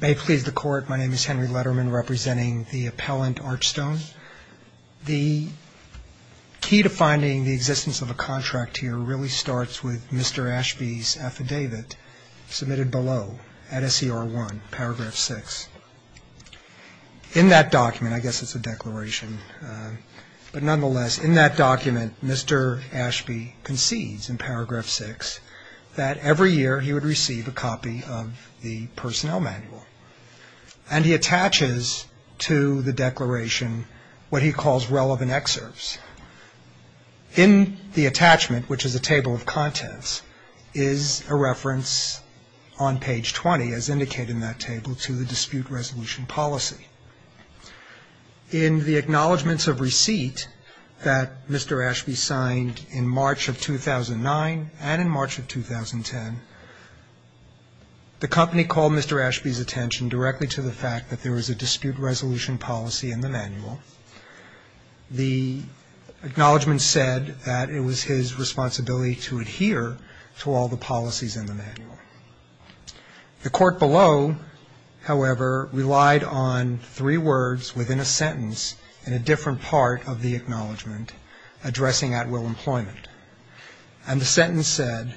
May it please the Court, my name is Henry Letterman representing the appellant Archstone. The key to finding the existence of a contract here really starts with Mr. Ashbey's affidavit submitted below at SCR1, paragraph 6. In that document, I guess it's a declaration, but nonetheless, in that document, Mr. Ashbey concedes in paragraph 6 that every year he would receive a copy of the personnel manual. And he attaches to the declaration what he calls relevant excerpts. In the attachment, which is a table of contents, is a reference on page 20, as indicated in that table, to the dispute resolution policy. In the acknowledgments of receipt that Mr. Ashbey signed in March of 2009 and in March of 2010, the company called Mr. Ashbey's attention directly to the fact that there was a dispute resolution policy in the manual. The acknowledgment said that it was his responsibility to adhere to all the policies in the manual. The court below, however, relied on three words within a sentence in a different part of the acknowledgment addressing at-will employment. And the sentence said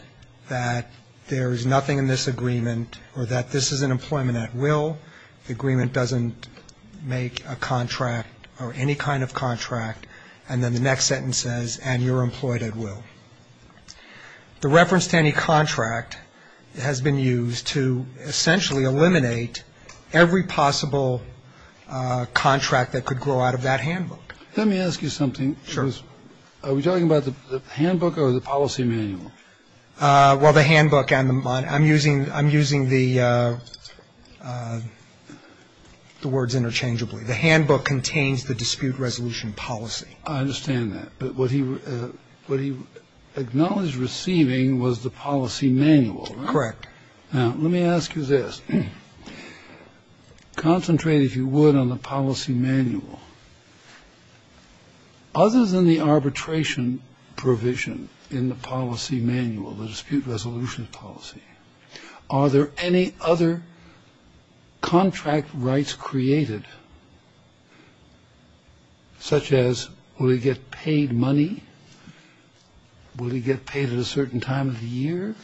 that there is nothing in this agreement or that this is an employment at will. The agreement doesn't make a contract or any kind of contract. And then the next sentence says, and you're employed at will. The reference to any contract has been used to essentially eliminate every possible contract that could grow out of that handbook. Let me ask you something. Sure. Are we talking about the handbook or the policy manual? Well, the handbook and the manual. I'm using the words interchangeably. The handbook contains the dispute resolution policy. I understand that. But what he what he acknowledged receiving was the policy manual. Correct. Now, let me ask you this. Concentrate, if you would, on the policy manual. Others in the arbitration provision in the policy manual, the dispute resolution policy. Are there any other contract rights created, such as will he get paid money? Will he get paid at a certain time of the year?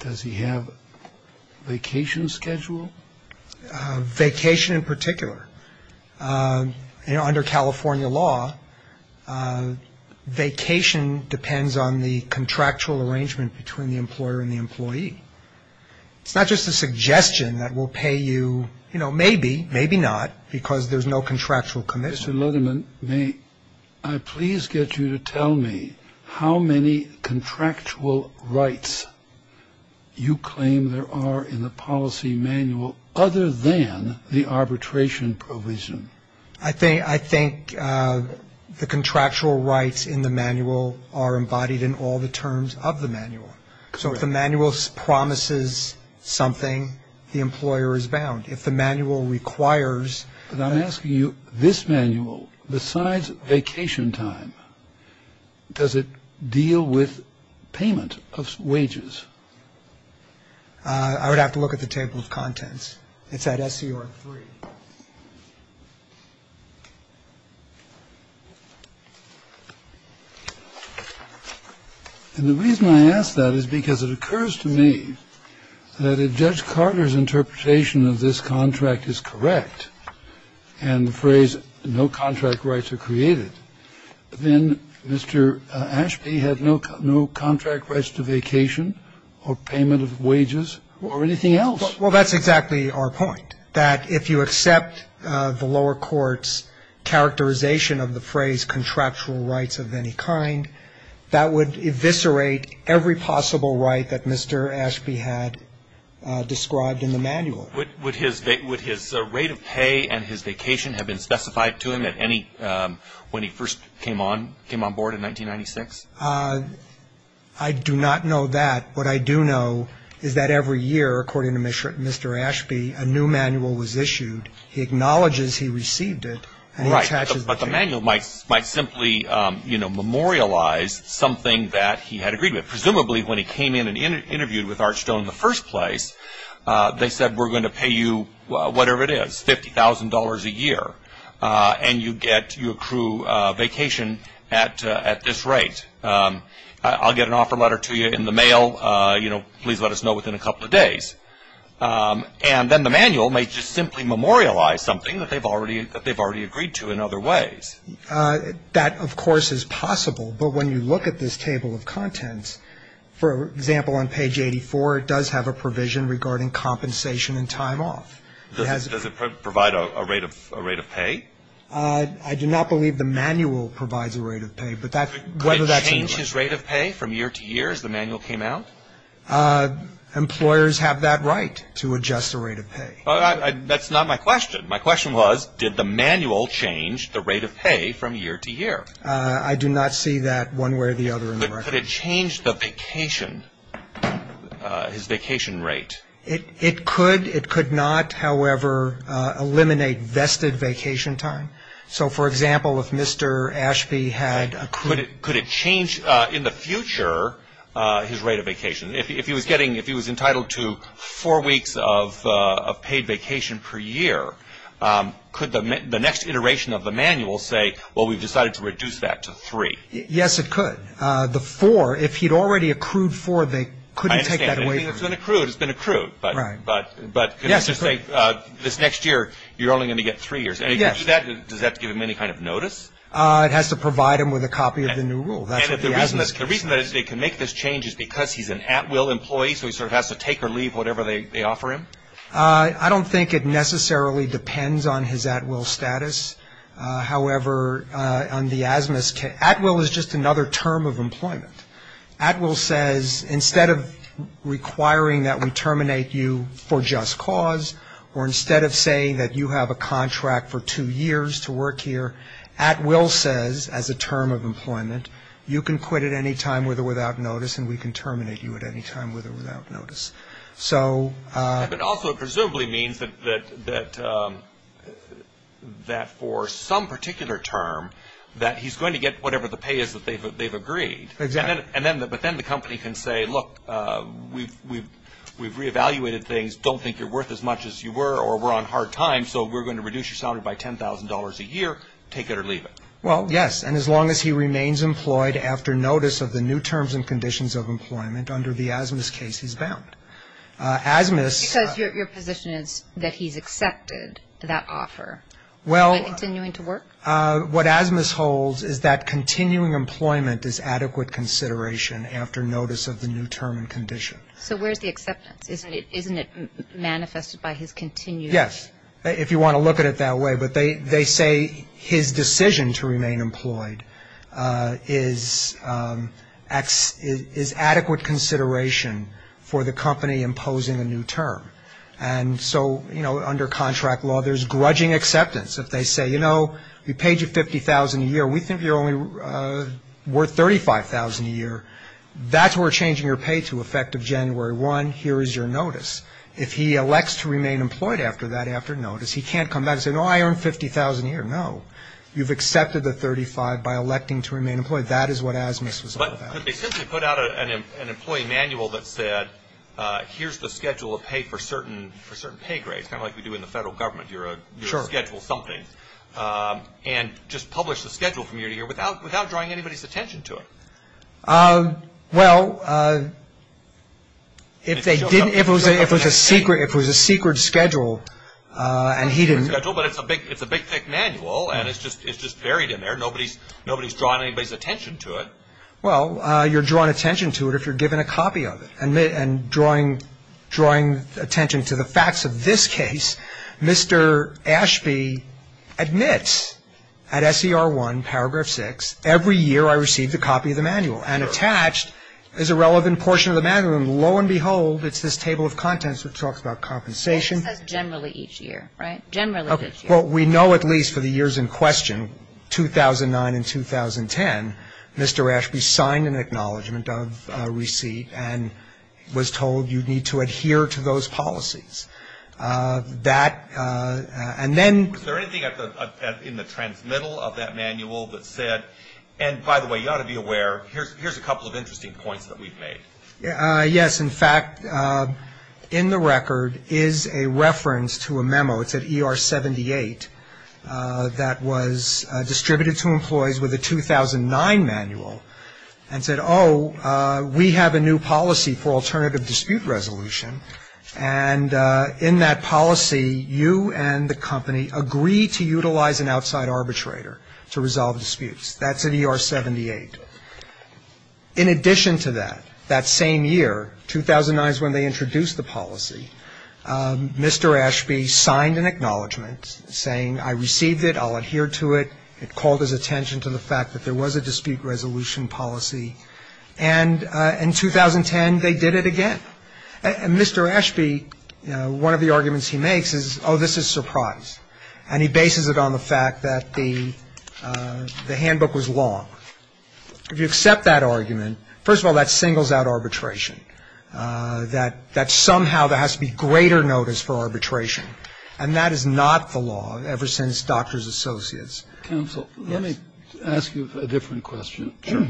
Does he have a vacation schedule? Vacation in particular. Under California law, vacation depends on the contractual arrangement between the employer and the employee. It's not just a suggestion that will pay you, you know, maybe, maybe not, because there's no contractual commission. Mr. Littleman, may I please get you to tell me how many contractual rights you claim there are in the policy manual, other than the arbitration provision? I think the contractual rights in the manual are embodied in all the terms of the manual. So if the manual promises something, the employer is bound. If the manual requires. But I'm asking you, this manual, besides vacation time, does it deal with payment of wages? I would have to look at the table of contents. It's at SCR three. And the reason I ask that is because it occurs to me that a judge Carter's interpretation of this contract is correct. And the phrase no contract rights are created. Then Mr. Ashby had no contract rights to vacation or payment of wages or anything else. Well, that's exactly our point, that if you accept the lower court's characterization of the phrase contractual rights of any kind, that would eviscerate every possible right that Mr. Ashby had described in the manual. Would his rate of pay and his vacation have been specified to him when he first came on board in 1996? I do not know that. What I do know is that every year, according to Mr. Ashby, a new manual was issued. He acknowledges he received it. Right. But the manual might simply memorialize something that he had agreed with. Presumably when he came in and interviewed with Archstone in the first place, they said we're going to pay you whatever it is, $50,000 a year, and you accrue vacation at this rate. I'll get an offer letter to you in the mail. Please let us know within a couple of days. And then the manual may just simply memorialize something that they've already agreed to in other ways. That, of course, is possible. But when you look at this table of contents, for example, on page 84, it does have a provision regarding compensation and time off. Does it provide a rate of pay? I do not believe the manual provides a rate of pay. But that's whether that's a lie. Could it change his rate of pay from year to year as the manual came out? Employers have that right to adjust the rate of pay. That's not my question. My question was did the manual change the rate of pay from year to year? I do not see that one way or the other in the record. Could it change the vacation, his vacation rate? It could. It could not, however, eliminate vested vacation time. So, for example, if Mr. Ashby had accrued. Could it change in the future his rate of vacation? If he was entitled to four weeks of paid vacation per year, could the next iteration of the manual say, well, we've decided to reduce that to three? Yes, it could. The four, if he'd already accrued four, they couldn't take that away from him. I understand. It's been accrued. Right. But this next year, you're only going to get three years. Yes. Does that give him any kind of notice? It has to provide him with a copy of the new rule. The reason that they can make this change is because he's an at-will employee, so he sort of has to take or leave whatever they offer him? I don't think it necessarily depends on his at-will status. However, on the asthma's case, at-will is just another term of employment. At-will says, instead of requiring that we terminate you for just cause, or instead of saying that you have a contract for two years to work here, at-will says, as a term of employment, you can quit at any time with or without notice and we can terminate you at any time with or without notice. It also presumably means that for some particular term, that he's going to get whatever the pay is that they've agreed. Exactly. But then the company can say, look, we've reevaluated things, don't think you're worth as much as you were or we're on hard time, so we're going to reduce your salary by $10,000 a year, take it or leave it. Well, yes, and as long as he remains employed after notice of the new terms and conditions of employment under the asthma's case, he's bound. Because your position is that he's accepted that offer by continuing to work? Well, what asthma's holds is that continuing employment is adequate consideration after notice of the new term and condition. So where's the acceptance? Isn't it manifested by his continued? Yes, if you want to look at it that way. But they say his decision to remain employed is adequate consideration for the company imposing a new term. And so, you know, under contract law, there's grudging acceptance. If they say, you know, we paid you $50,000 a year, we think you're only worth $35,000 a year, that's where we're changing your pay to effective January 1, here is your notice. If he elects to remain employed after that, after notice, he can't come back and say, no, I earned $50,000 a year. No, you've accepted the $35,000 by electing to remain employed. That is what asthma's was all about. But they simply put out an employee manual that said, here's the schedule of pay for certain pay grades, kind of like we do in the federal government. You schedule something and just publish the schedule from year to year without drawing anybody's attention to it. Well, if they didn't, if it was a secret schedule and he didn't. It's a big thick manual and it's just buried in there. Nobody's drawing anybody's attention to it. Well, you're drawing attention to it if you're given a copy of it and drawing attention to the facts of this case. Mr. Ashby admits at SER1 paragraph 6, every year I receive the copy of the manual and attached is a relevant portion of the manual. And lo and behold, it's this table of contents which talks about compensation. It says generally each year, right? Generally each year. Well, we know at least for the years in question, 2009 and 2010, Mr. Ashby signed an acknowledgment of receipt and was told you need to adhere to those policies. Was there anything in the transmittal of that manual that said, and by the way, you ought to be aware, here's a couple of interesting points that we've made? Yes. In fact, in the record is a reference to a memo. It's at ER78 that was distributed to employees with a 2009 manual and said, oh, we have a new policy for alternative dispute resolution. And in that policy, you and the company agree to utilize an outside arbitrator to resolve disputes. That's at ER78. In addition to that, that same year, 2009 is when they introduced the policy, Mr. Ashby signed an acknowledgment saying I received it, I'll adhere to it. It called his attention to the fact that there was a dispute resolution policy. And in 2010, they did it again. And Mr. Ashby, one of the arguments he makes is, oh, this is surprise. And he bases it on the fact that the handbook was long. If you accept that argument, first of all, that singles out arbitration, that somehow there has to be greater notice for arbitration. And that is not the law ever since Doctors Associates. Counsel, let me ask you a different question. Sure.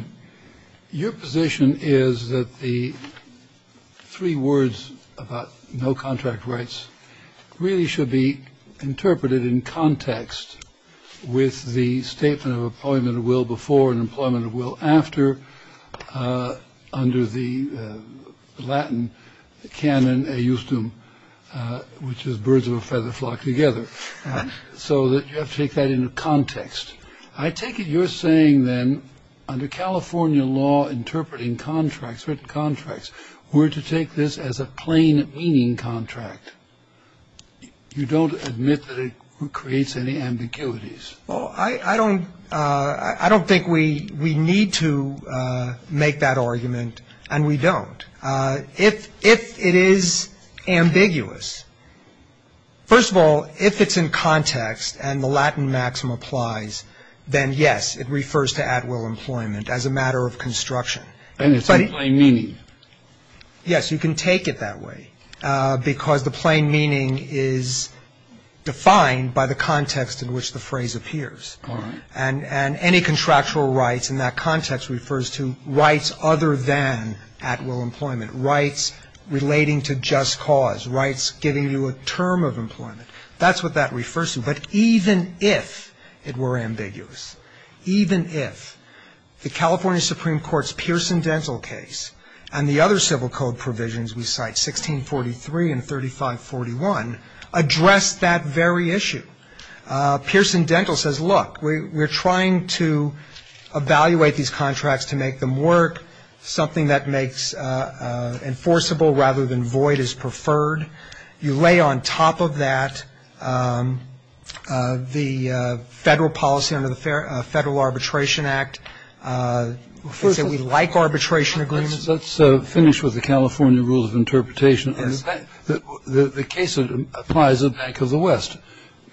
Your position is that the. Three words about no contract rights really should be interpreted in context with the statement of appointment of will before and employment of will after. Under the Latin canon used to which is birds of a feather flock together so that you have to take that into context. I take it you're saying then under California law, interpreting contracts, written contracts were to take this as a plain meaning contract. You don't admit that it creates any ambiguities. Oh, I don't. I don't think we we need to make that argument. And we don't. If it is ambiguous. First of all, if it's in context and the Latin maxim applies, then, yes, it refers to at will employment as a matter of construction. And it's plain meaning. Yes, you can take it that way because the plain meaning is defined by the context in which the phrase appears. All right. And any contractual rights in that context refers to rights other than at will employment, rights relating to just cause, rights giving you a term of employment. That's what that refers to. But even if it were ambiguous, even if the California Supreme Court's Pearson Dental case and the other civil code provisions we cite, 1643 and 3541, address that very issue. Pearson Dental says, look, we're trying to evaluate these contracts to make them work. Something that makes enforceable rather than void is preferred. You lay on top of that the federal policy under the Federal Arbitration Act. We like arbitration agreements. The case applies to the Bank of the West.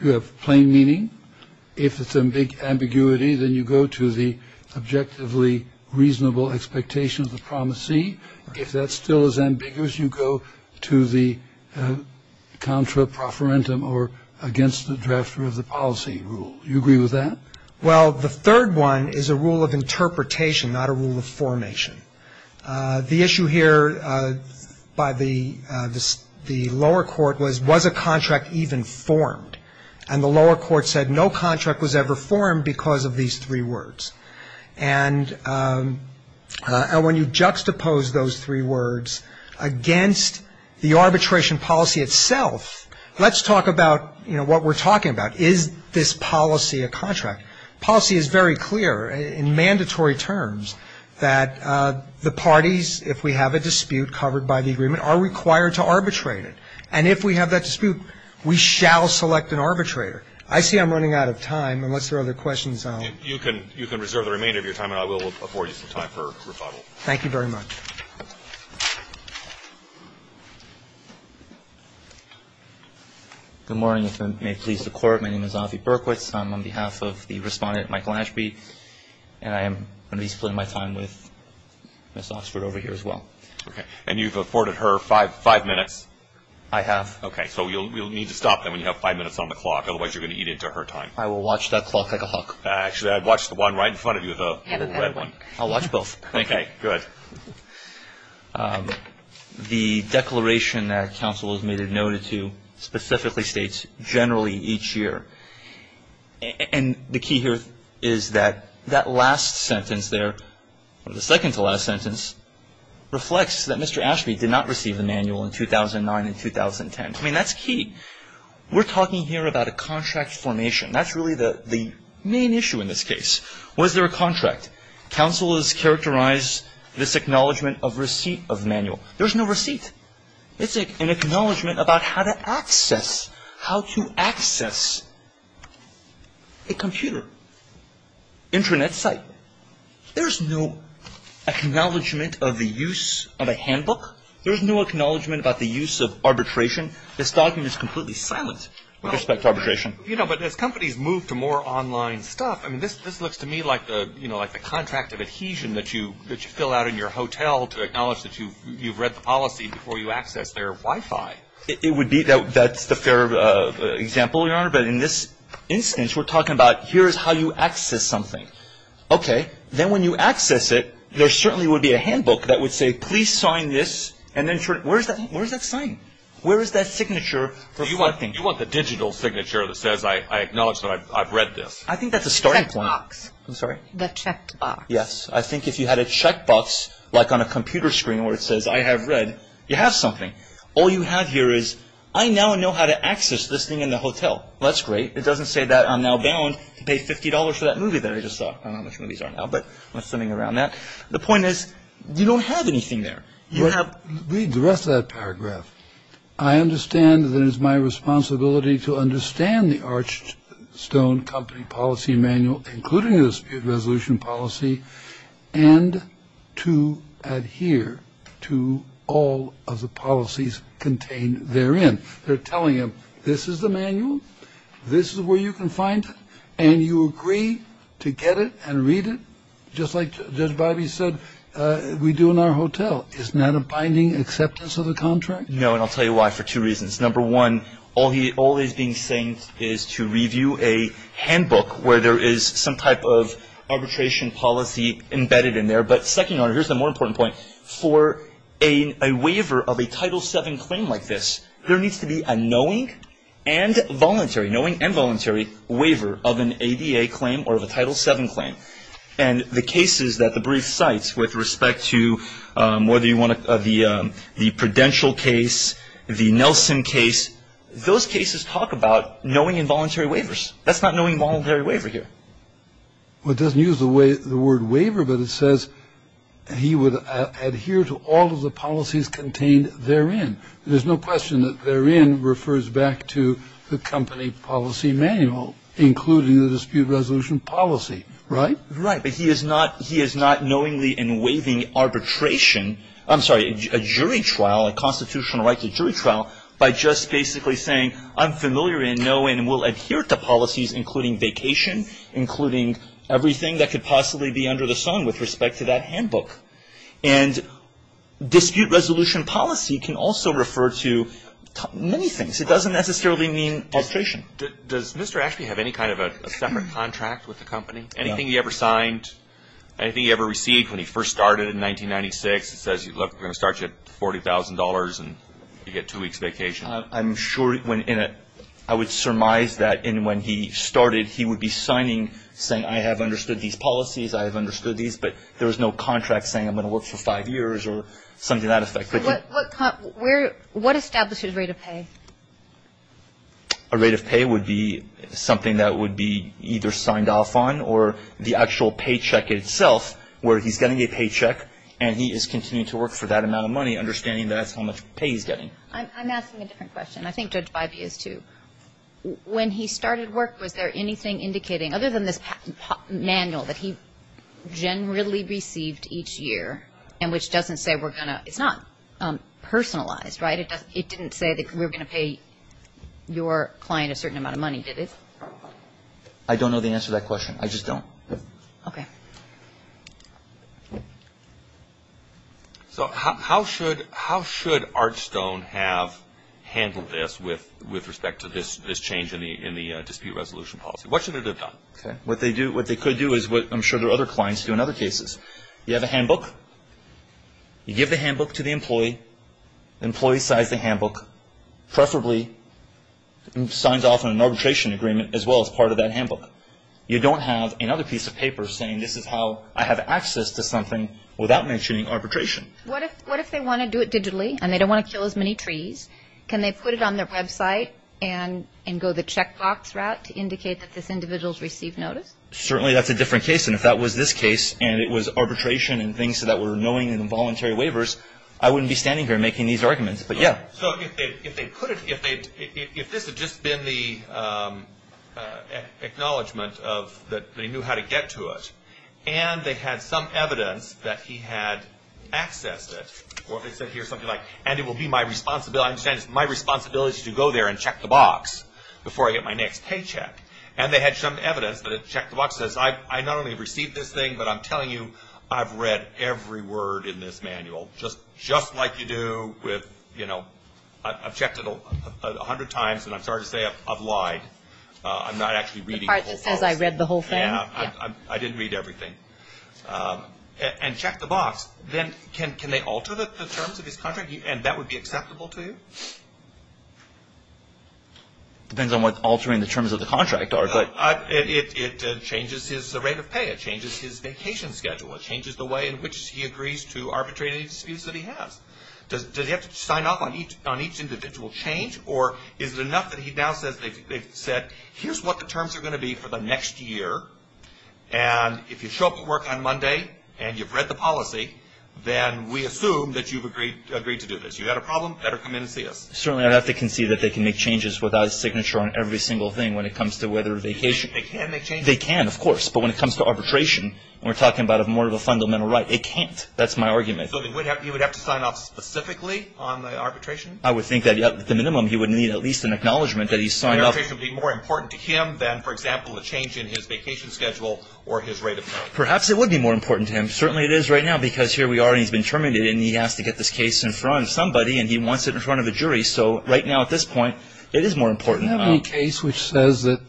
You have plain meaning. If it's a big ambiguity, then you go to the objectively reasonable expectation of the promisee. If that still is ambiguous, you go to the contra proferentum or against the drafter of the policy rule. You agree with that? Well, the third one is a rule of interpretation, not a rule of formation. The issue here by the lower court was, was a contract even formed? And the lower court said no contract was ever formed because of these three words. And when you juxtapose those three words against the arbitration policy itself, let's talk about, you know, what we're talking about. Is this policy a contract? Policy is very clear in mandatory terms that the parties, if we have a dispute covered by the agreement, are required to arbitrate it. And if we have that dispute, we shall select an arbitrator. I see I'm running out of time, unless there are other questions. You can reserve the remainder of your time, and I will afford you some time for rebuttal. Thank you very much. Good morning. If it may please the Court, my name is Avi Berkowitz. I'm on behalf of the respondent, Michael Ashby, and I am going to be splitting my time with Ms. Oxford over here as well. Okay. And you've afforded her five minutes. I have. Okay. So you'll need to stop then when you have five minutes on the clock, otherwise you're going to eat into her time. I will watch that clock like a hawk. Actually, I'd watch the one right in front of you, the red one. I'll watch both. Thank you. Okay, good. The declaration that counsel has made it noted to specifically states generally each year. And the key here is that that last sentence there, or the second-to-last sentence, reflects that Mr. Ashby did not receive the manual in 2009 and 2010. I mean, that's key. We're talking here about a contract formation. That's really the main issue in this case. Was there a contract? Counsel has characterized this acknowledgment of receipt of manual. There's no receipt. It's an acknowledgment about how to access a computer, Internet site. There's no acknowledgment of the use of a handbook. There's no acknowledgment about the use of arbitration. This document is completely silent with respect to arbitration. But as companies move to more online stuff, this looks to me like the contract of adhesion that you fill out in your hotel to acknowledge that you've read the policy before you access their Wi-Fi. That's the fair example, Your Honor. But in this instance, we're talking about here's how you access something. Okay. Then when you access it, there certainly would be a handbook that would say, please sign this. Where is that sign? Where is that signature reflecting? Do you want the digital signature that says I acknowledge that I've read this? I think that's a starting point. The checkbox. I'm sorry? The checkbox. Yes. I think if you had a checkbox like on a computer screen where it says I have read, you have something. All you have here is I now know how to access this thing in the hotel. That's great. It doesn't say that I'm now bound to pay $50 for that movie that I just saw. I don't know how much movies are now, but something around that. The point is you don't have anything there. Read the rest of that paragraph. I understand that it is my responsibility to understand the arched stone company policy manual, including this resolution policy, and to adhere to all of the policies contained therein. They're telling him this is the manual, this is where you can find it, and you agree to get it and read it, just like Judge Biby said we do in our hotel. Well, isn't that a binding acceptance of the contract? No, and I'll tell you why, for two reasons. Number one, all he's being saying is to review a handbook where there is some type of arbitration policy embedded in there. But second, here's the more important point. For a waiver of a Title VII claim like this, there needs to be a knowing and voluntary waiver of an ADA claim or of a Title VII claim. And the cases that the brief cites with respect to whether you want the Prudential case, the Nelson case, those cases talk about knowing and voluntary waivers. That's not knowing and voluntary waiver here. Well, it doesn't use the word waiver, but it says he would adhere to all of the policies contained therein. There's no question that therein refers back to the company policy manual, including the dispute resolution policy, right? Right, but he is not knowingly in waiving arbitration, I'm sorry, a jury trial, a constitutional right to jury trial, by just basically saying I'm familiar in knowing and will adhere to policies including vacation, including everything that could possibly be under the sun with respect to that handbook. And dispute resolution policy can also refer to many things. It doesn't necessarily mean arbitration. Does Mr. Ashby have any kind of a separate contract with the company? No. Anything he ever signed, anything he ever received when he first started in 1996? It says, look, we're going to start you at $40,000 and you get two weeks vacation. I'm sure I would surmise that when he started he would be signing saying I have understood these policies, I have understood these, but there was no contract saying I'm going to work for five years or something to that effect. What established his rate of pay? A rate of pay would be something that would be either signed off on or the actual paycheck itself where he's getting a paycheck and he is continuing to work for that amount of money, understanding that's how much pay he's getting. I'm asking a different question. I think Judge Bybee is too. When he started work, was there anything indicating, other than this manual that he generally received each year and which doesn't say we're going to, it's not personalized, right? It didn't say that we were going to pay your client a certain amount of money, did it? I don't know the answer to that question. I just don't. Okay. So how should Archstone have handled this with respect to this change in the dispute resolution policy? What should it have done? Okay. What they could do is what I'm sure their other clients do in other cases. You have a handbook. You give the handbook to the employee. The employee signs the handbook, preferably signs off on an arbitration agreement as well as part of that handbook. You don't have another piece of paper saying this is how I have access to something without mentioning arbitration. What if they want to do it digitally and they don't want to kill as many trees? Can they put it on their website and go the checkbox route to indicate that this individual has received notice? Certainly that's a different case, and if that was this case and it was arbitration and things that were knowing and involuntary waivers, I wouldn't be standing here making these arguments. But, yeah. So if this had just been the acknowledgement that they knew how to get to it and they had some evidence that he had accessed it, or if it said here something like, and it will be my responsibility to go there and check the box before I get my next paycheck, and they had some evidence that it checked the box, it says I not only received this thing, but I'm telling you I've read every word in this manual, just like you do with, you know, I've checked it a hundred times and I'm sorry to say I've lied. I'm not actually reading the whole thing. The part that says I read the whole thing? Yeah. I didn't read everything. And check the box. Then can they alter the terms of his contract? And that would be acceptable to you? Depends on what altering the terms of the contract are. It changes his rate of pay. It changes his vacation schedule. It changes the way in which he agrees to arbitrate any disputes that he has. Does he have to sign off on each individual change, or is it enough that he now says, they've said here's what the terms are going to be for the next year, and if you show up at work on Monday and you've read the policy, then we assume that you've agreed to do this. You've got a problem? Better come in and see us. Certainly, I'd have to concede that they can make changes without a signature on every single thing when it comes to whether vacation. They can make changes. They can, of course. But when it comes to arbitration, we're talking about more of a fundamental right. It can't. That's my argument. So he would have to sign off specifically on the arbitration? I would think that at the minimum he would need at least an acknowledgement that he signed off. The arbitration would be more important to him than, for example, a change in his vacation schedule or his rate of pay. Perhaps it would be more important to him. Certainly it is right now because here we are and he's been terminated, and he has to get this case in front of somebody, and he wants it in front of a jury. So right now at this point, it is more important. Do you have any case which says that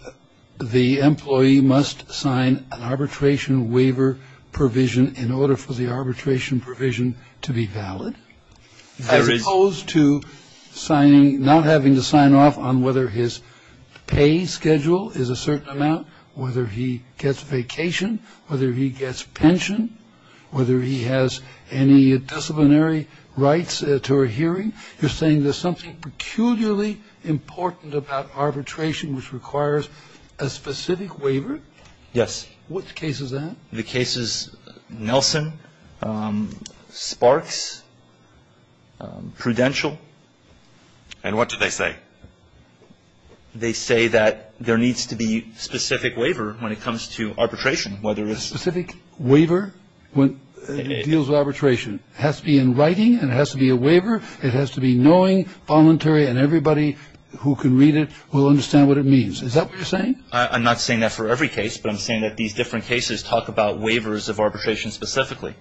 the employee must sign an arbitration waiver provision in order for the arbitration provision to be valid, as opposed to not having to sign off on whether his pay schedule is a certain amount, whether he gets vacation, whether he gets pension, whether he has any disciplinary rights to a hearing? You're saying there's something peculiarly important about arbitration which requires a specific waiver? Yes. Which case is that? The case is Nelson, Sparks, Prudential. And what do they say? They say that there needs to be specific waiver when it comes to arbitration, whether it's the ---- Specific waiver when it deals with arbitration. It has to be in writing and it has to be a waiver. It has to be knowing, voluntary, and everybody who can read it will understand what it means. Is that what you're saying? I'm not saying that for every case, but I'm saying that these different cases talk about waivers of arbitration specifically.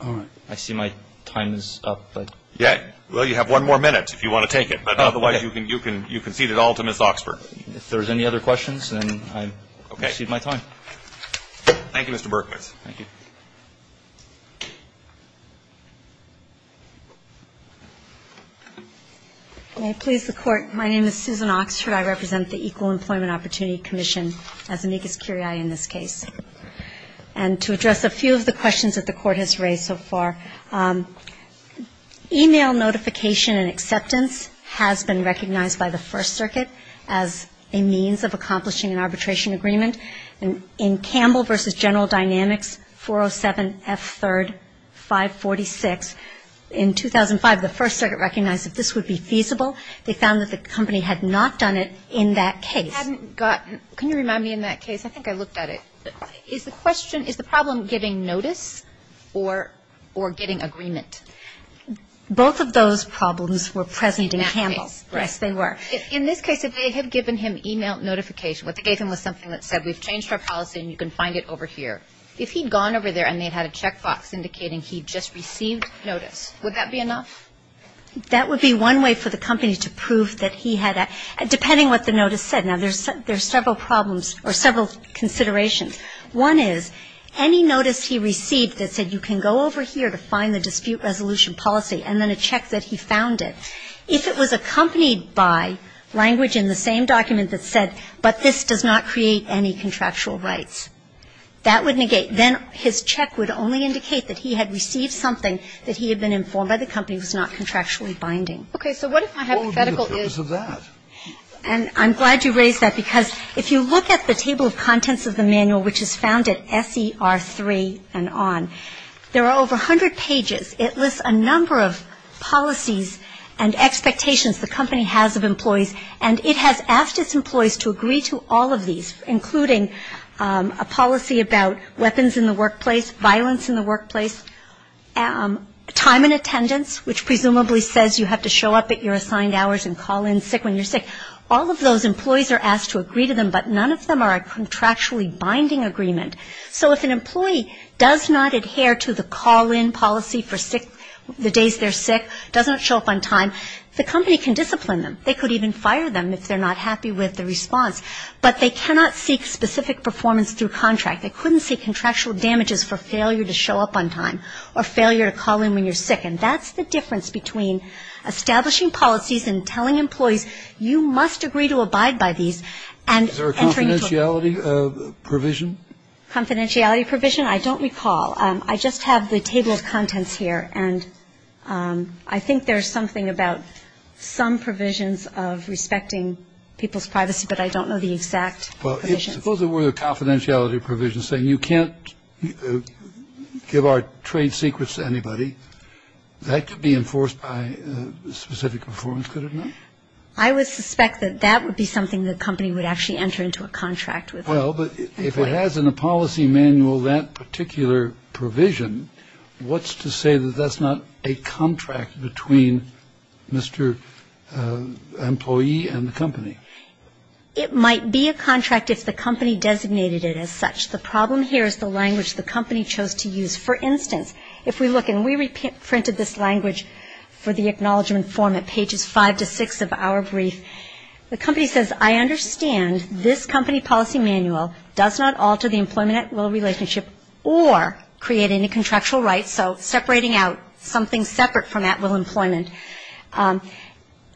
All right. I see my time is up. Yeah. Well, you have one more minute if you want to take it. Otherwise, you can cede it all to Ms. Oxford. If there's any other questions, then I cede my time. Okay. Thank you, Mr. Berkowitz. Thank you. May I please the Court? My name is Susan Oxford. I represent the Equal Employment Opportunity Commission as amicus curiae in this case. And to address a few of the questions that the Court has raised so far, email notification and acceptance has been recognized by the First Circuit as a means of accomplishing an arbitration agreement. In Campbell v. General Dynamics 407 F3rd 546, in 2005, the First Circuit recognized that this would be feasible. They found that the company had not done it in that case. Hadn't gotten. Can you remind me in that case? I think I looked at it. Is the question, is the problem getting notice or getting agreement? Both of those problems were present in Campbell. In that case. Yes, they were. In this case, if they had given him email notification, what they gave him was something that said, we've changed our policy and you can find it over here. If he'd gone over there and they'd had a checkbox indicating he'd just received notice, would that be enough? That would be one way for the company to prove that he had, depending what the notice said. Now, there's several problems or several considerations. One is any notice he received that said you can go over here to find the dispute resolution policy and then a check that he found it. If it was accompanied by language in the same document that said, but this does not create any contractual rights, that would negate. Then his check would only indicate that he had received something that he had been informed by the company was not contractually binding. So what if my hypothetical is. What would be the purpose of that? And I'm glad you raised that because if you look at the table of contents of the manual, which is found at SER3 and on, there are over 100 pages. It lists a number of policies and expectations the company has of employees, and it has asked its employees to agree to all of these, including a policy about weapons in the workplace, violence in the workplace, time in attendance, which presumably says you have to show up at your assigned hours and call in sick when you're sick. All of those employees are asked to agree to them, but none of them are a contractually binding agreement. So if an employee does not adhere to the call-in policy for sick, the days they're sick, doesn't show up on time, the company can discipline them. They could even fire them if they're not happy with the response. But they cannot seek specific performance through contract. They couldn't seek contractual damages for failure to show up on time or failure to call in when you're sick. And that's the difference between establishing policies and telling employees, you must agree to abide by these and entering into a. Provision. Confidentiality provision? I don't recall. I just have the tabled contents here, and I think there's something about some provisions of respecting people's privacy, but I don't know the exact. Well, suppose there were a confidentiality provision saying you can't give our trade secrets to anybody. That could be enforced by specific performance, could it not? I would suspect that that would be something the company would actually enter into a contract with. Well, but if it has in a policy manual that particular provision, what's to say that that's not a contract between Mr. Employee and the company? It might be a contract if the company designated it as such. The problem here is the language the company chose to use. For instance, if we look and we reprinted this language for the acknowledgement form at pages five to six of our brief, the company says, I understand this company policy manual does not alter the employment at-will relationship or create any contractual rights, so separating out something separate from at-will employment.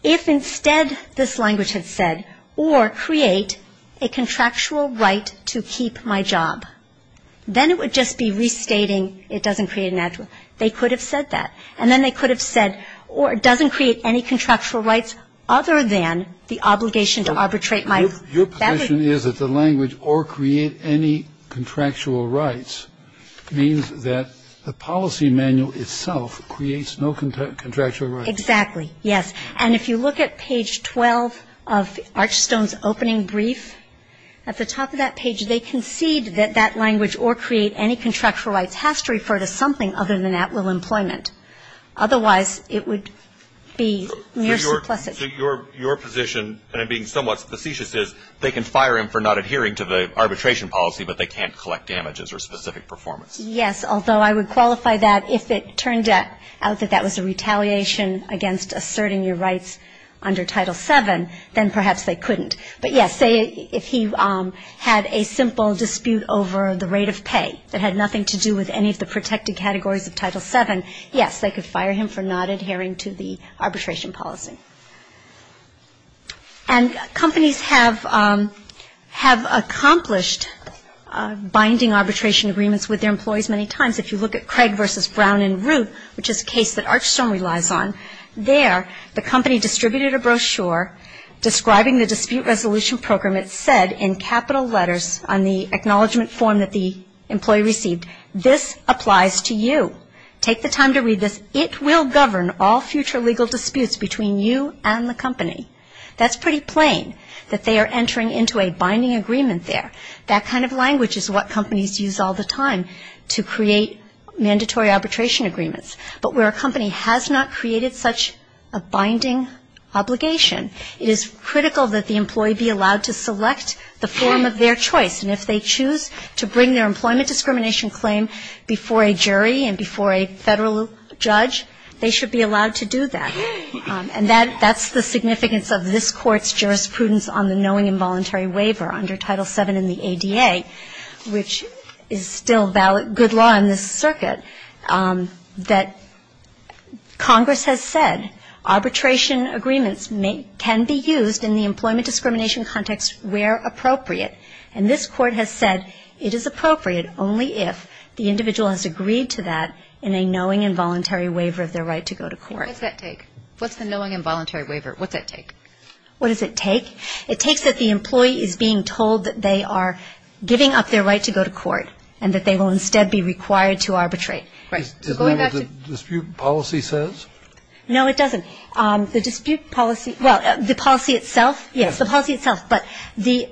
If instead this language had said, or create a contractual right to keep my job, then it would just be restating it doesn't create an at-will. They could have said that. or create any contractual rights, other than the obligation to arbitrate my job. Your position is that the language, or create any contractual rights, means that the policy manual itself creates no contractual rights. Exactly, yes. And if you look at page 12 of Archstone's opening brief, at the top of that page, they concede that that language, or create any contractual rights, has to refer to something other than at-will employment. Otherwise, it would be mere simplicity. So your position, and I'm being somewhat facetious, is they can fire him for not adhering to the arbitration policy, but they can't collect damages or specific performance. Yes, although I would qualify that if it turned out that that was a retaliation against asserting your rights under Title VII, then perhaps they couldn't. But, yes, say if he had a simple dispute over the rate of pay that had nothing to do with any of the protected categories of Title VII, yes, they could fire him for not adhering to the arbitration policy. And companies have accomplished binding arbitration agreements with their employees many times. If you look at Craig v. Brown and Root, which is a case that Archstone relies on, there the company distributed a brochure describing the dispute resolution program. It said in capital letters on the acknowledgment form that the employee received, this applies to you. Take the time to read this. It will govern all future legal disputes between you and the company. That's pretty plain that they are entering into a binding agreement there. That kind of language is what companies use all the time to create mandatory arbitration agreements. But where a company has not created such a binding obligation, it is critical that the employee be allowed to select the form of their choice. And if they choose to bring their employment discrimination claim before a jury and before a Federal judge, they should be allowed to do that. And that's the significance of this Court's jurisprudence on the knowing involuntary waiver under Title VII in the ADA, which is still good law in this circuit, that Congress has said arbitration agreements can be used in the employment discrimination context where appropriate. And this Court has said it is appropriate only if the individual has agreed to that in a knowing involuntary waiver of their right to go to court. What's that take? What's the knowing involuntary waiver? What's that take? What does it take? It takes that the employee is being told that they are giving up their right to go to court and that they will instead be required to arbitrate. Going back to the dispute policy says? No, it doesn't. The dispute policy, well, the policy itself, yes, the policy itself. But the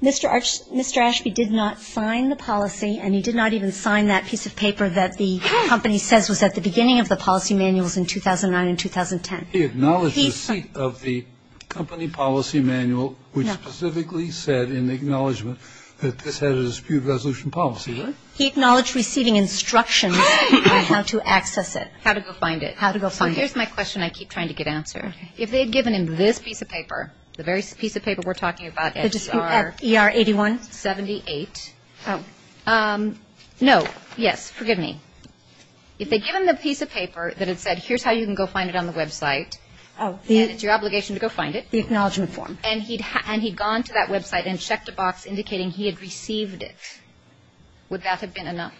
Mr. Ashby did not sign the policy and he did not even sign that piece of paper that the company says was at the beginning of the policy manuals in 2009 and 2010. He acknowledged the receipt of the company policy manual, which specifically said in the acknowledgment that this had a dispute resolution policy, right? He acknowledged receiving instructions on how to access it. How to go find it. How to go find it. So here's my question I keep trying to get answered. If they had given him this piece of paper, the very piece of paper we're talking about at ER. ER 81. 78. Oh. No. Yes. Forgive me. If they give him the piece of paper that had said here's how you can go find it on the website. Oh. And it's your obligation to go find it. The acknowledgment form. And he'd gone to that website and checked a box indicating he had received it. Would that have been enough?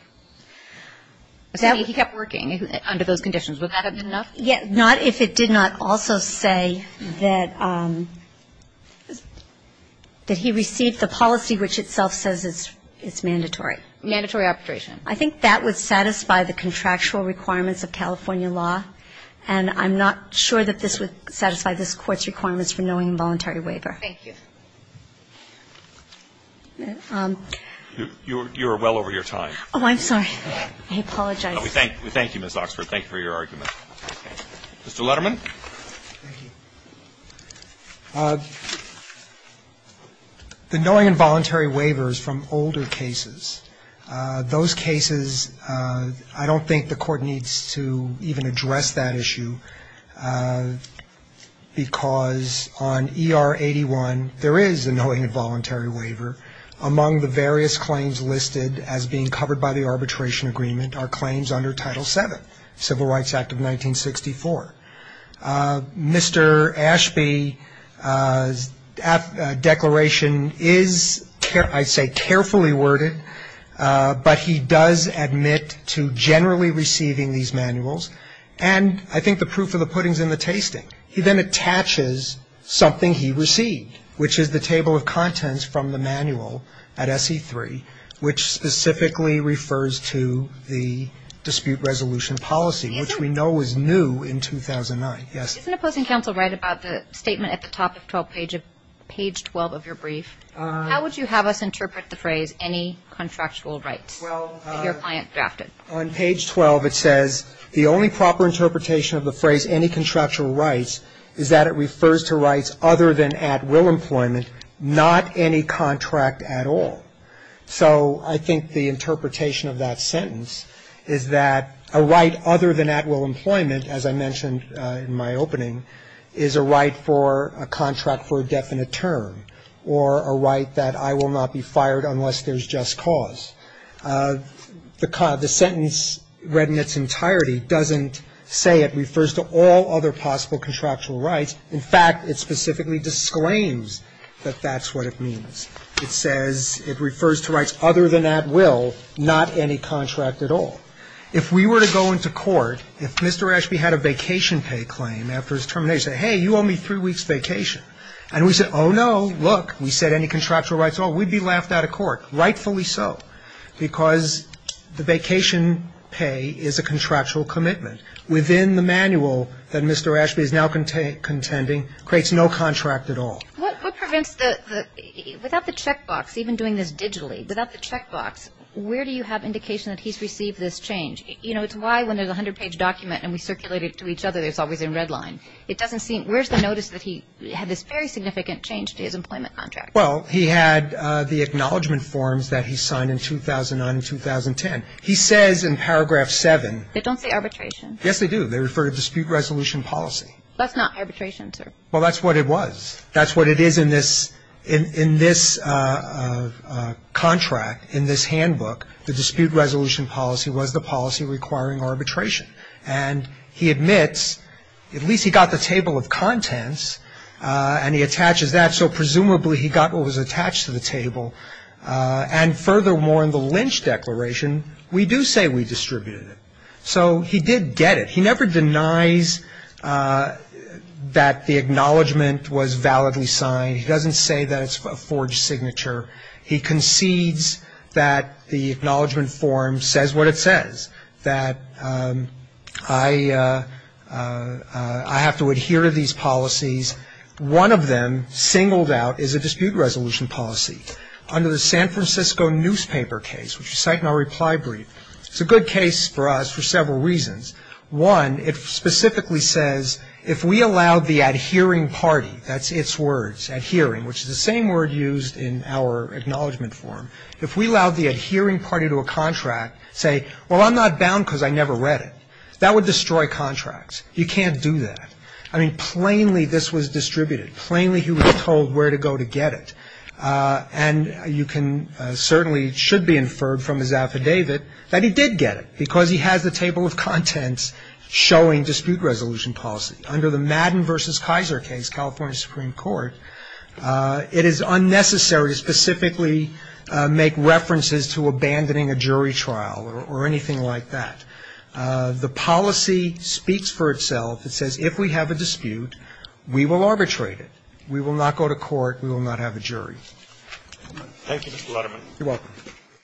He kept working under those conditions. Would that have been enough? Not if it did not also say that he received the policy which itself says it's mandatory. Mandatory arbitration. I think that would satisfy the contractual requirements of California law. And I'm not sure that this would satisfy this Court's requirements for knowing involuntary waiver. Thank you. You're well over your time. Oh, I'm sorry. I apologize. We thank you, Ms. Oxford. Thank you for your argument. Mr. Letterman. Thank you. The knowing involuntary waiver is from older cases. Those cases, I don't think the Court needs to even address that issue because on E.R. 81, there is a knowing involuntary waiver. Among the various claims listed as being covered by the arbitration agreement are claims under Title VII, Civil Rights Act of 1964. Mr. Ashby's declaration is, I'd say, carefully worded, but he does admit to generally receiving these manuals, and I think the proof of the pudding is in the tasting. He then attaches something he received, which is the table of contents from the manual at S.E. 3, which specifically refers to the dispute resolution policy, which we know was new in 2009. Yes? Isn't opposing counsel right about the statement at the top of page 12 of your brief? How would you have us interpret the phrase, any contractual rights, that your client drafted? Well, on page 12, it says, the only proper interpretation of the phrase, any contractual rights, is that it refers to rights other than at will employment, not any contract at all. So I think the interpretation of that sentence is that a right other than at will employment, as I mentioned in my opening, is a right for a contract for a definite term, or a right that I will not be fired unless there's just cause. The sentence read in its entirety doesn't say it refers to all other possible contractual rights. In fact, it specifically disclaims that that's what it means. It says it refers to rights other than at will, not any contract at all. If we were to go into court, if Mr. Ashby had a vacation pay claim after his termination, say, hey, you owe me three weeks' vacation. And we said, oh, no, look, we said any contractual rights at all, we'd be laughed out of court, rightfully so, because the vacation pay is a contractual commitment within the manual that Mr. Ashby is now contending creates no contract at all. What prevents the, without the checkbox, even doing this digitally, without the checkbox, where do you have indication that he's received this change? You know, it's why when there's a 100-page document and we circulate it to each other, it's always in red line. It doesn't seem, where's the notice that he had this very significant change to his employment contract? Well, he had the acknowledgment forms that he signed in 2009 and 2010. He says in paragraph 7. They don't say arbitration. Yes, they do. They refer to dispute resolution policy. That's not arbitration, sir. Well, that's what it was. That's what it is in this contract, in this handbook. The dispute resolution policy was the policy requiring arbitration. And he admits, at least he got the table of contents, and he attaches that, so presumably he got what was attached to the table. And furthermore, in the Lynch declaration, we do say we distributed it. So he did get it. He never denies that the acknowledgment was validly signed. He doesn't say that it's a forged signature. He concedes that the acknowledgment form says what it says, that I have to adhere to these policies. One of them, singled out, is a dispute resolution policy. Under the San Francisco newspaper case, which you cite in our reply brief, it's a good case for us for several reasons. One, it specifically says, if we allowed the adhering party, that's its words, adhering, which is the same word used in our acknowledgment form. If we allowed the adhering party to a contract, say, well, I'm not bound because I never read it, that would destroy contracts. You can't do that. I mean, plainly this was distributed. Plainly he was told where to go to get it. And you can certainly, should be inferred from his affidavit that he did get it, because he has the table of contents showing dispute resolution policy. Under the Madden v. Kaiser case, California Supreme Court, it is unnecessary to specifically make references to abandoning a jury trial or anything like that. The policy speaks for itself. It says if we have a dispute, we will arbitrate it. We will not go to court. We will not have a jury. Thank you, Mr. Letterman. You're welcome.